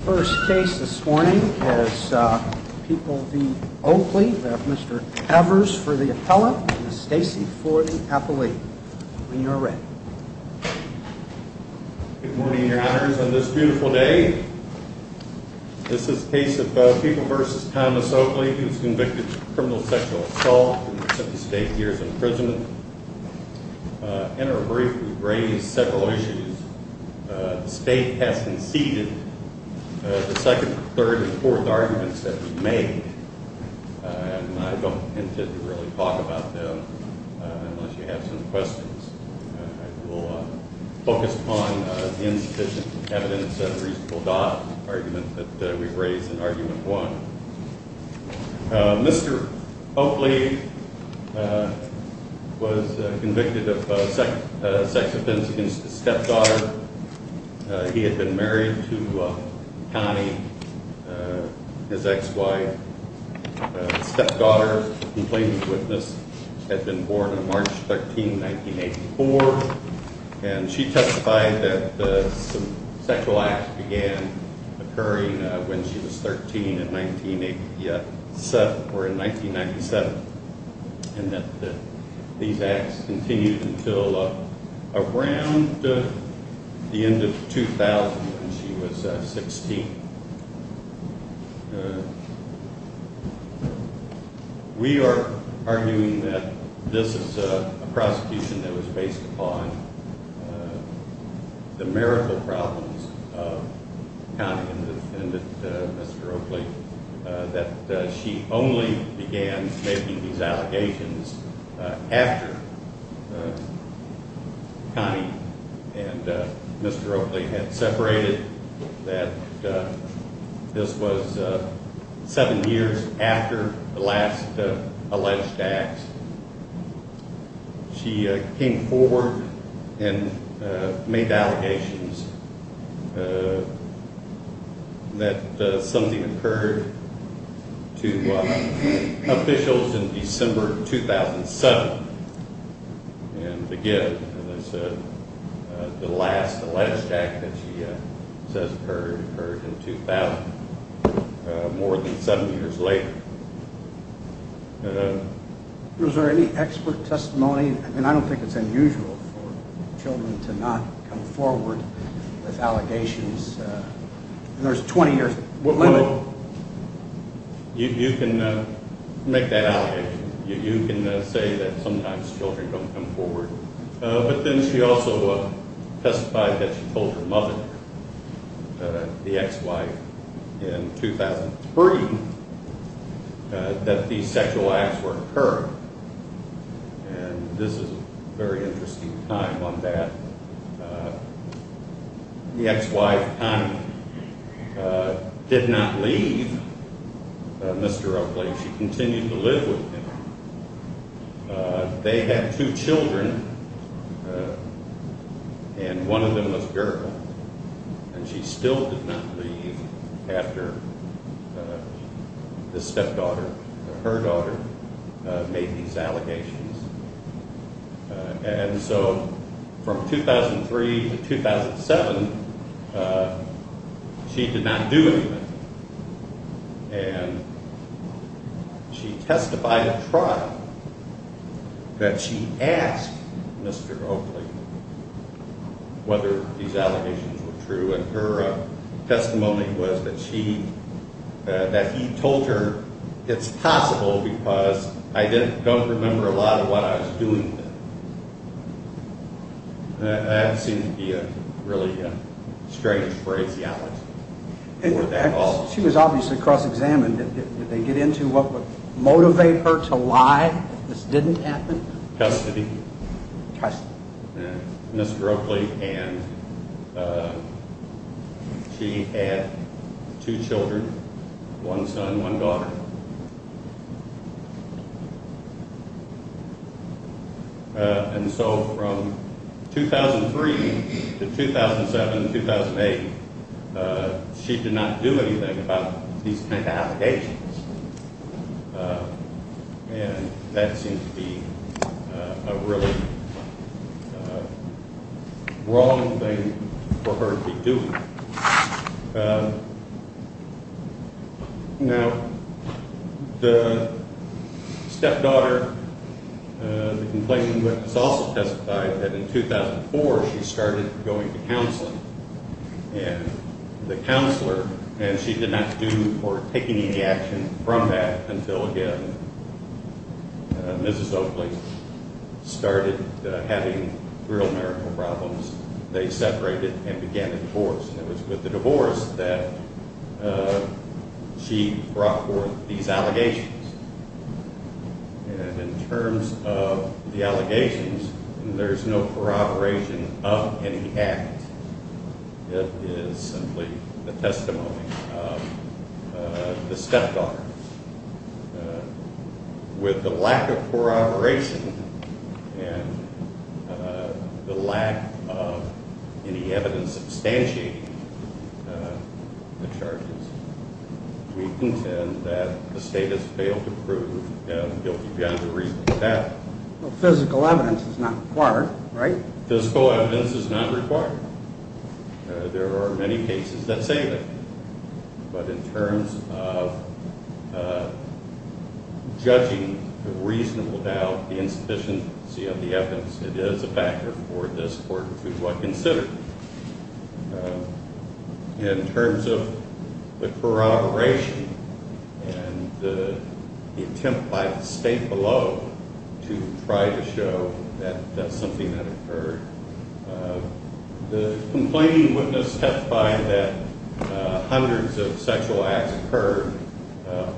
First case this morning is People v. Oakley. We have Mr. Evers for the appellate and Stacey for the appellate. When you're ready. Good morning your honors on this beautiful day this is case of People v. Thomas Oakley who's convicted of criminal sexual assault and the second third and fourth arguments that we made and I don't intend to really talk about them unless you have some questions. I will focus on insufficient evidence at a reasonable dot argument that we've raised in argument one. Mr. Oakley was convicted of sex offense against his stepdaughter. He had been married to Connie his ex-wife. His stepdaughter who claimed to witness had been born on March 13, 1984 and she testified that some sexual acts began occurring when she was 13 in 1987 or in 1997 and that these acts continued until around the end of 2000 when she was 16. We are arguing that this is a prosecution that was based upon the marital problems of Connie and Mr. Oakley that she only began making these allegations after Connie and Mr. Oakley had separated that this was seven years after the last alleged acts. She came forward and made allegations uh that something occurred to officials in December 2007 and again as I said the last alleged act that she says occurred in 2000 more than seven years later. Was there any expert testimony? I mean I don't think it's unusual for with allegations uh there's a 20 year limit. You can make that allegation you can say that sometimes children don't come forward but then she also testified that she told her mother the ex-wife in 2003 that these sexual acts were occurred and this is a very interesting time on uh the ex-wife Connie uh did not leave Mr. Oakley. She continued to live with him. They had two children and one of them was a girl and she still did not leave after uh the stepdaughter her daughter made these allegations and so from 2003 to 2007 she did not do anything and she testified at trial that she asked Mr. Oakley whether these allegations were true and her testimony was that she that he told her it's possible because I didn't don't remember a lot of what I was doing that seemed to be a really strange phrase. She was obviously cross-examined. Did they get into what would motivate her to lie this didn't happen custody custody Mr. Oakley and she had two children one son one daughter and so from 2003 to 2007-2008 she did not do anything about these kind of allegations uh and that seemed to be a really wrong thing for her to be doing. Now the stepdaughter uh the complaint was also testified that in 2004 she started going to from that until again Mrs. Oakley started having real marital problems. They separated and began a divorce and it was with the divorce that she brought forth these allegations and in terms of the allegations there's no corroboration of any act it is simply the testimony of the stepdaughters with the lack of corroboration and the lack of any evidence substantiating the charges we intend that the state has failed to prove him guilty beyond a reasonable doubt. Well physical evidence is not required right? Physical evidence is not required there are many cases that say that but in terms of judging the reasonable doubt the insufficiency of the evidence it is a factor for this court to try to show that that's something that occurred. The complaining witness testified that hundreds of sexual acts occurred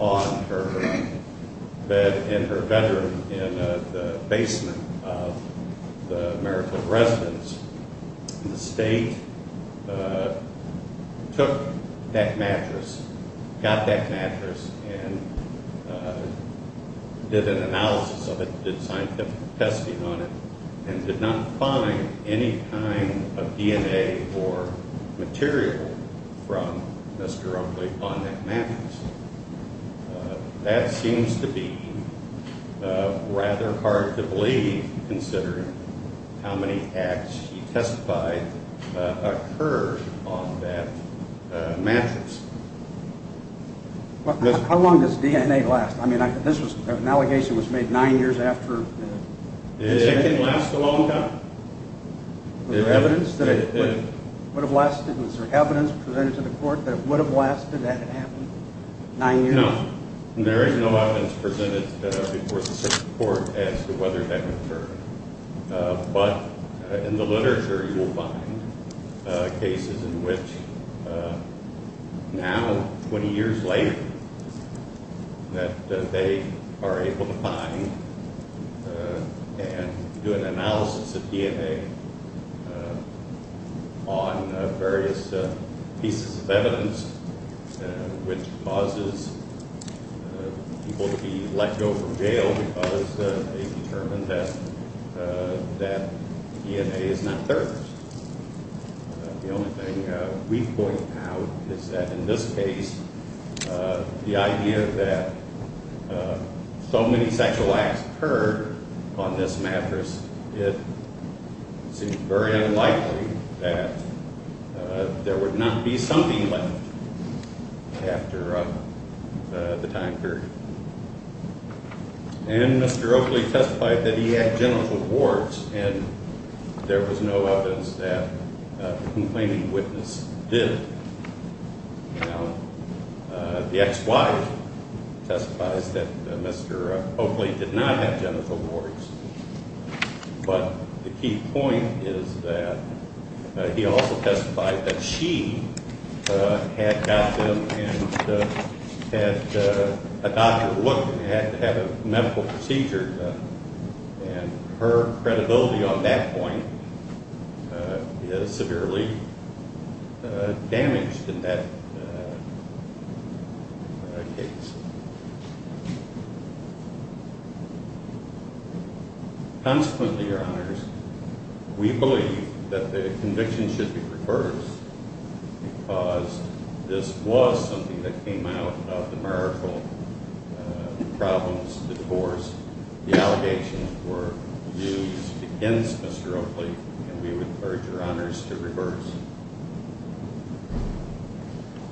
on her bed in her bedroom in the basement of the marital residence the state took that mattress got that mattress and did an analysis of it did scientific testing on it and did not find any kind of DNA or material from Mr. Oakley on that mattress. Uh that seems to be uh rather hard to believe considering how many acts she testified occurred on that mattress. How long does DNA last? I mean this was an allegation was made nine years after. It didn't last a long time. The evidence that it would have lasted was there evidence presented to the court that would have lasted that had happened nine years? No there is no evidence presented before the court as to whether that occurred but in the literature you will find cases in which now 20 years later that they are able to find and do an analysis of DNA uh on various pieces of evidence which causes people to be let go from jail because they determined that that DNA is not theirs. The only thing we point out is that in this case uh the idea that so many sexual acts occurred on this mattress it seems very unlikely that there would not be something left after uh the time period. And Mr. Oakley testified that he had genital warts and there was no evidence that the complaining witness did. Now the ex-wife testifies that Mr. Oakley did not have genital warts but the key point is that he also testified that she had got them and had a doctor look and had to have a medical procedure done and her credibility on that point is severely damaged in that case. Consequently, your honors, we believe that the conviction should be reversed because this was something that came out of the marital problems, the divorce, the allegations were used against Mr. Oakley and we would urge your honors to reverse.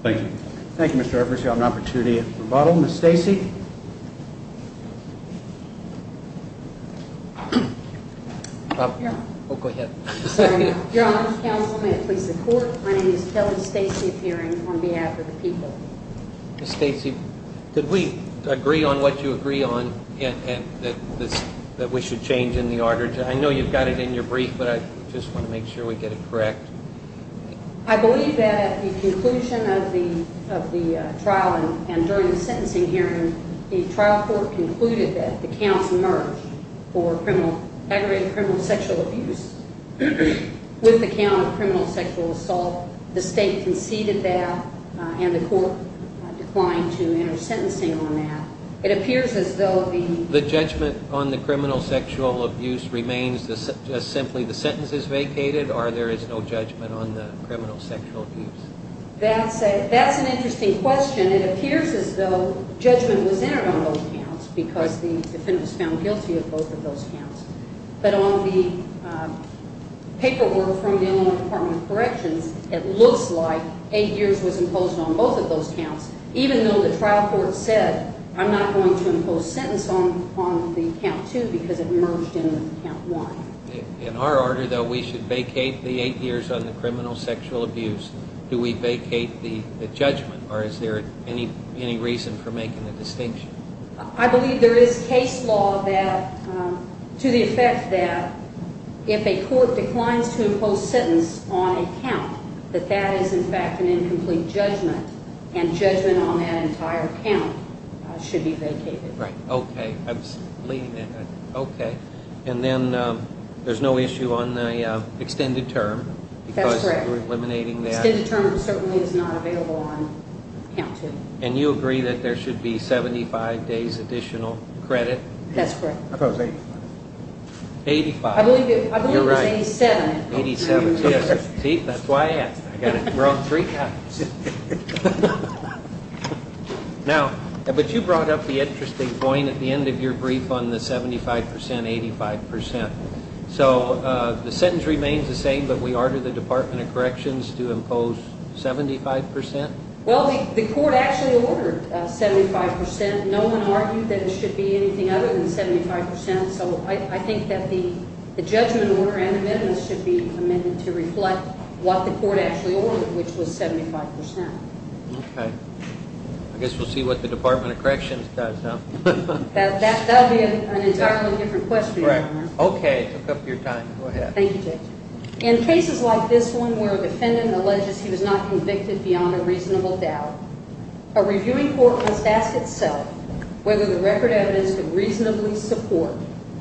Thank you. Thank you Mr. Evers. You have an opportunity at rebuttal. Ms. Stacy. Oh go ahead. Your honor, counsel may it please the court, my name is Kelly Stacy appearing on behalf of the people. Ms. Stacy, did we agree on what you agree on and that this that we should change in the order? I know you've got it in your brief but I just want to make sure we get it correct. I believe that at the conclusion of the of the trial and during the sentencing hearing the trial court concluded that the counts emerged for criminal aggravated criminal sexual abuse with the count of criminal sexual assault. The state conceded that and the court declined to enter sentencing on that. It appears as though the judgment on the criminal sexual abuse remains just simply the sentence is vacated or there is no judgment on the criminal sexual abuse? That's a that's an interesting question. It appears as though judgment was entered on both counts because the defendant was found guilty of both of those counts but on the paperwork from the Illinois Department of Corrections it looks like eight years was imposed on both of those counts even though the trial court said I'm not going to impose sentence on on the count two because it merged in count one. In our order though we should vacate the eight years on the criminal sexual abuse. Do we vacate the the judgment or is there any any reason for making the distinction? I believe there is case law that to the effect that if a court declines to impose sentence on a count that that is in fact an incomplete judgment and judgment on that entire count should be vacated. Right okay absolutely okay and then there's no issue on the extended term because you're eliminating that. Extended term certainly is not available on count two. And you agree that there should be 75 days additional credit? That's correct. I thought it was 85. 85. I believe it was 87. 87 yes see that's why I asked. I got it wrong three times. Now but you brought up the interesting point at the end of your brief on the 75 percent 85 percent. So uh the sentence remains the same but we order the Department of Corrections to impose 75 percent? Well the court actually ordered uh 75 percent. No one argued that it should be anything other than 75 percent. So I think that the the judgment order and amendments should be amended to reflect what the court actually ordered which was 75 percent. Okay I guess we'll see what the Department of Corrections does now. That that'll be an entirely different question. Correct. Okay took up your time. Go ahead. Thank you Judge. In cases like this one where a defendant alleges he was not convicted beyond a reasonable doubt, a reviewing court must ask itself whether the record evidence could reasonably support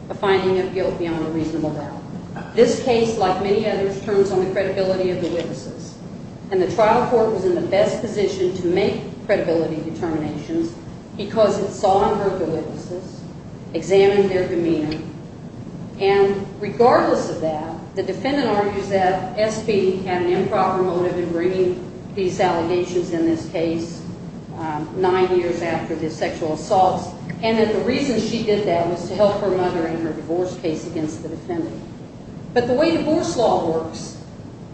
a finding of guilt beyond a reasonable doubt. This case like many others turns on the credibility of the witnesses and the trial court was in the best position to make regardless of that the defendant argues that S.P. had an improper motive in bringing these allegations in this case nine years after the sexual assaults and that the reason she did that was to help her mother in her divorce case against the defendant. But the way divorce law works,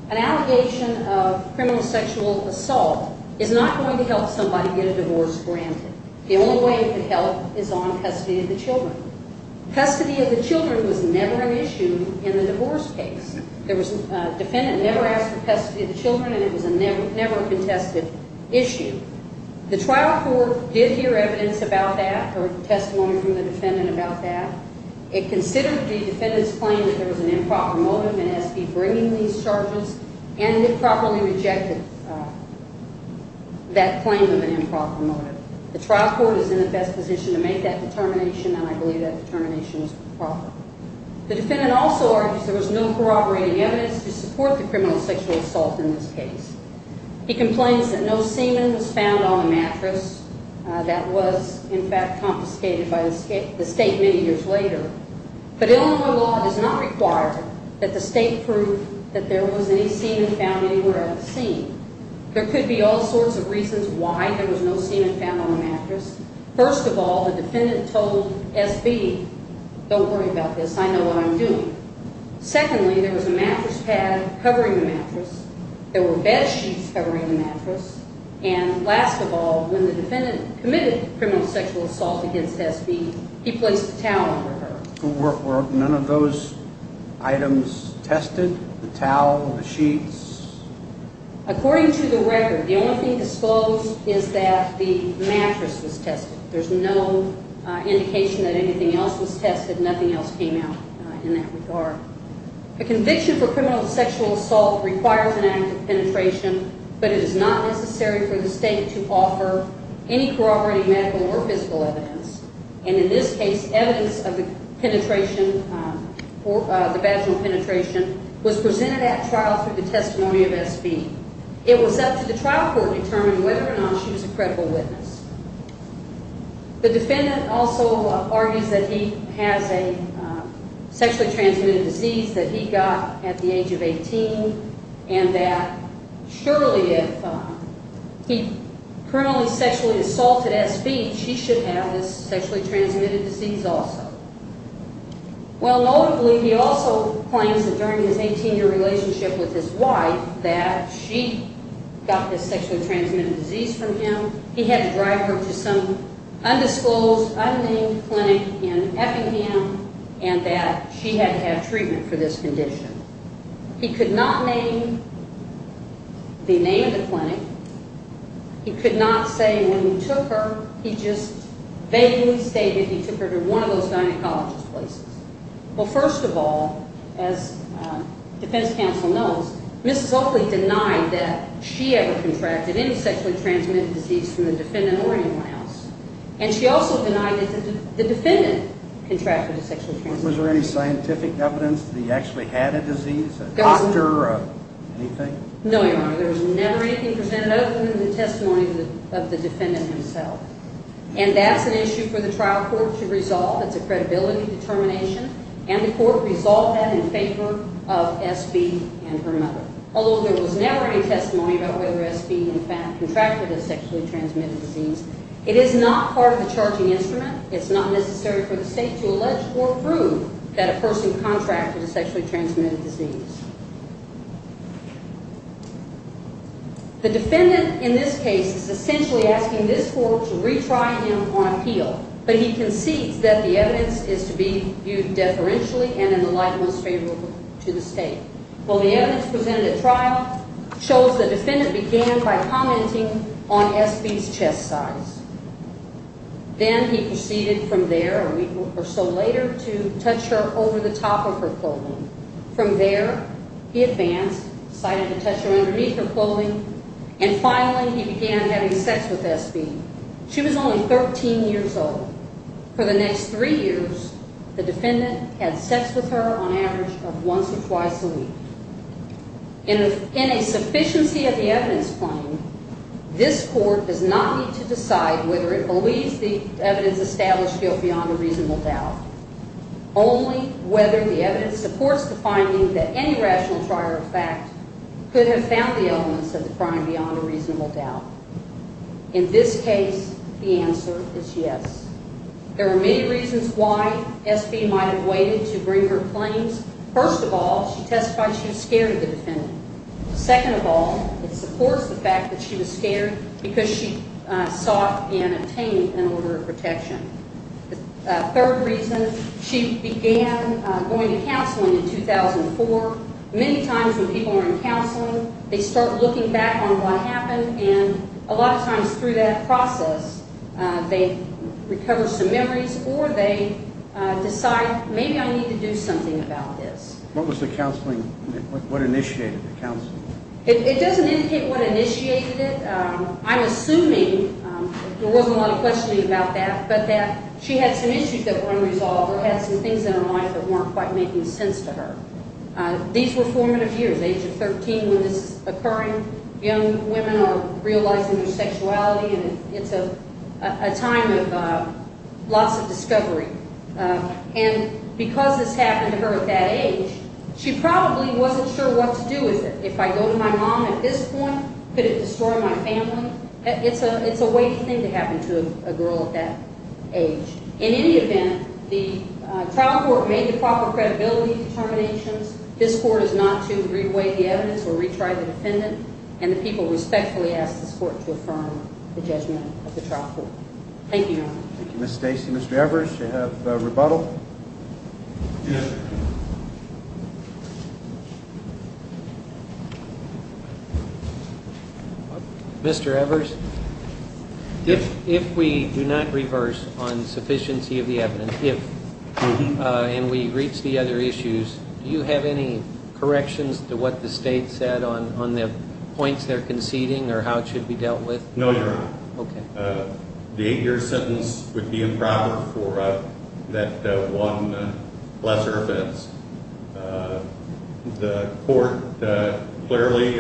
an allegation of criminal sexual assault is not going to help somebody get a divorce granted. The only way it could help is on custody of the children. Custody of the children was never an issue in the divorce case. There was a defendant never asked for custody of the children and it was a never never contested issue. The trial court did hear evidence about that or testimony from the defendant about that. It considered the defendant's claim that there was an improper motive in S.P. bringing these charges and improperly rejected that claim of an improper motive. The trial court is in the best position to make that determination and I believe that determination is proper. The defendant also argues there was no corroborating evidence to support the criminal sexual assault in this case. He complains that no semen was found on the mattress that was in fact confiscated by the state many years later. But Illinois law does not require that the state prove that there was any semen found anywhere on the scene. There could be all sorts of reasons why there was no semen found on the mattress. First of all the defendant told S.P. don't worry about this I know what I'm doing. Secondly there was a mattress pad covering the mattress. There were bed sheets covering the mattress and last of all when the defendant committed criminal sexual assault against S.P. he placed a towel under her. Were none of those items tested the towel the sheets? According to the record the only thing disclosed is that the mattress was tested. There's no indication that anything else was tested nothing else came out in that regard. A conviction for criminal sexual assault requires an act of penetration but it is not necessary for the evidence of the penetration or the vaginal penetration was presented at trial through the testimony of S.P. It was up to the trial court to determine whether or not she was a credible witness. The defendant also argues that he has a sexually transmitted disease that he got at the age of 18 and that surely if he criminally sexually assaulted S.P. she should have this sexually transmitted disease also. Well notably he also claims that during his 18-year relationship with his wife that she got this sexually transmitted disease from him. He had to drive her to some undisclosed unnamed clinic in Effingham and that she had to have treatment for this condition. He could not name the name of the clinic. He could not say when he took her he just vaguely stated he took her to one of those gynecologist places. Well first of all as defense counsel knows Mrs. Oakley denied that she ever contracted any sexually transmitted disease from the defendant or anyone else and she also denied that the defendant contracted a sexually transmitted disease. Was there any scientific evidence that he actually had a disease a doctor or anything? No your honor there was never anything presented other than the testimony of the defendant himself and that's an issue for the trial court to resolve. It's a credibility determination and the court resolved that in favor of S.P. and her mother although there was never any testimony about whether S.P. in fact contracted a sexually transmitted disease. It is not part of the charging instrument. It's not necessary for the state to allege or prove that a person contracted a sexually transmitted disease. The defendant in this case is essentially asking this court to retry him on appeal but he concedes that the evidence is to be viewed deferentially and in the light most favorable to the state. Well the evidence presented at trial shows the defendant began by commenting on S.P.'s chest size. Then he proceeded from there a week or so later to touch her over the top of her clothing. From there he advanced decided to touch her underneath her clothing and finally he began having sex with S.P. She was only 13 years old. For the next three years the defendant had sex with her on average of once or twice a week. In a sufficiency of the evidence claim this court does not need to decide whether it believes the evidence established guilt beyond a reasonable doubt. Only whether the evidence supports the crime beyond a reasonable doubt. In this case the answer is yes. There are many reasons why S.P. might have waited to bring her claims. First of all she testified she was scared of the defendant. Second of all it supports the fact that she was scared because she sought and attained an order of protection. The third reason she began going to counseling in 2004. Many times when people are in counseling they reflect back on what happened and a lot of times through that process they recover some memories or they decide maybe I need to do something about this. What was the counseling what initiated the counseling? It doesn't indicate what initiated it. I'm assuming there wasn't a lot of questioning about that but that she had some issues that were unresolved or had some things in her life that weren't quite making sense to her. These were formative years age of 13 when this is occurring young women are realizing their sexuality and it's a time of lots of discovery and because this happened to her at that age she probably wasn't sure what to do with it. If I go to my mom at this point could it destroy my family? It's a it's a waiting thing to happen to a girl at that age. In any event the trial court made the proper credibility determinations. This court is not to weigh the evidence or retry the defendant and the people respectfully ask this court to affirm the judgment of the trial court. Thank you. Thank you Ms. Stacy. Mr. Evers you have a rebuttal. Mr. Evers if if we do not reverse on sufficiency of the evidence if and we reach the other issues do you have any corrections to what the state said on on the points they're conceding or how it should be dealt with? No your honor. Okay. The eight year sentence would be improper for that one lesser offense. The court clearly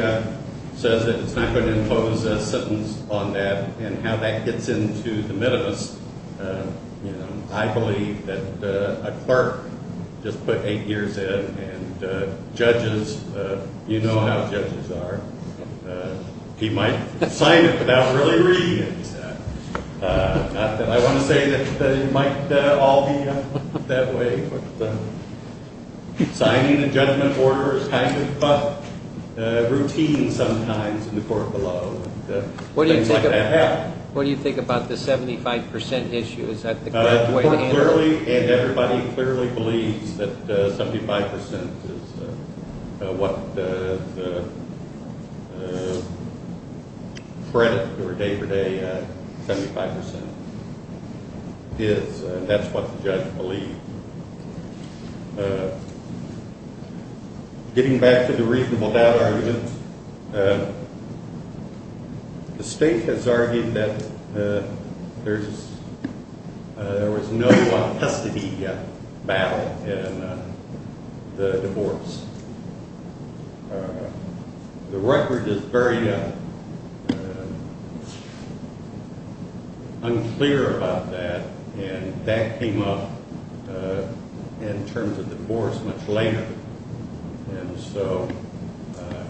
says that it's not going to a clerk just put eight years in and judges you know how judges are. He might sign it without really reading it. Not that I want to say that it might all be that way signing a judgment order is kind of a routine sometimes in the court below. What do you think what do you think about the 75 percent issue? Is that the way to handle it? And everybody clearly believes that 75 percent is what the credit or day-for-day 75 percent is and that's what the judge believed. Getting back to the reasonable doubt arguments the state has argued that there's there was no custody battle in the divorce. The record is very unclear about that and that came up in terms of divorce much later and so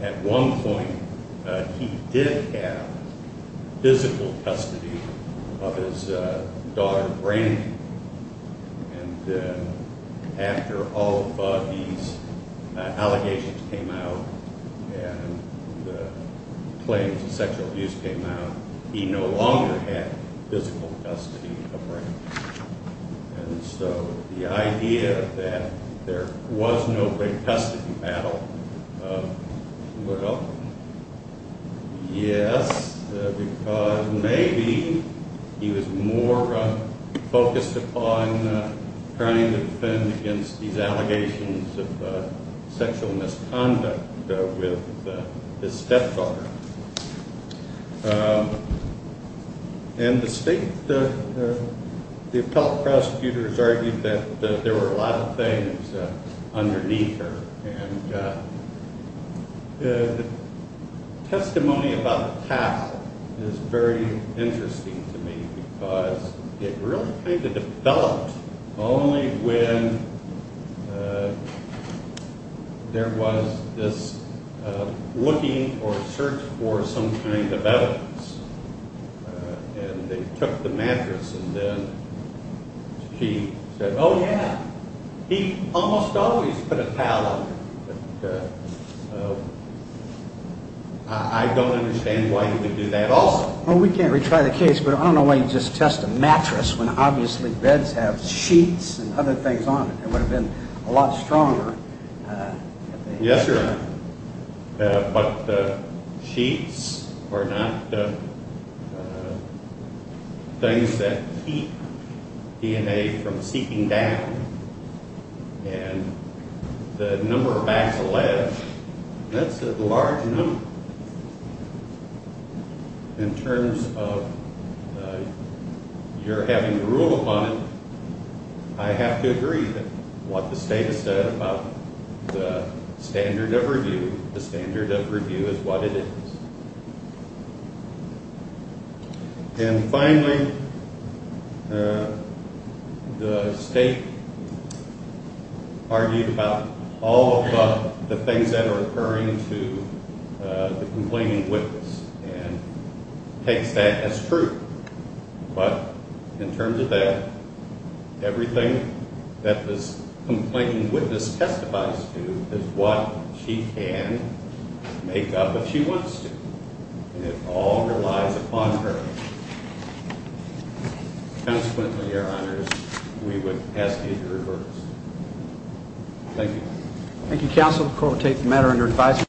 at one point he did have physical custody of his daughter Brandy and after all of these allegations came out and the claims of sexual abuse came out he no longer had physical custody of Brandy and so the idea that there was no great custody battle well yes because maybe he was more focused upon trying to defend against these allegations of sexual misconduct with his stepdaughter and the state the appellate prosecutors argued that there were a lot of things underneath her and the testimony about the path is very interesting to me because it really kind of developed only when there was this looking or search for some kind of evidence and they took the mattress and then she said oh yeah he almost always put a towel on it but I don't understand why he would do that also. Well we can't retry the case but I don't know why you just test a mattress when obviously beds have sheets and other things on it that would have been a lot stronger. Yes sir but the sheets are not things that keep DNA from seeping down and the number of bags of lead that's a large number in terms of you're having to rule upon it I have to agree that what the state has said about the standard of review the standard of review is what it is and finally uh the state argued about all of the things that are occurring to the complaining witness and takes that as true but in terms of that everything that this complaining witness testifies to is what she can make up if she wants to and it all relies upon her consequently your honors we would ask you to reverse thank you thank you counsel we'll take the matter under advisory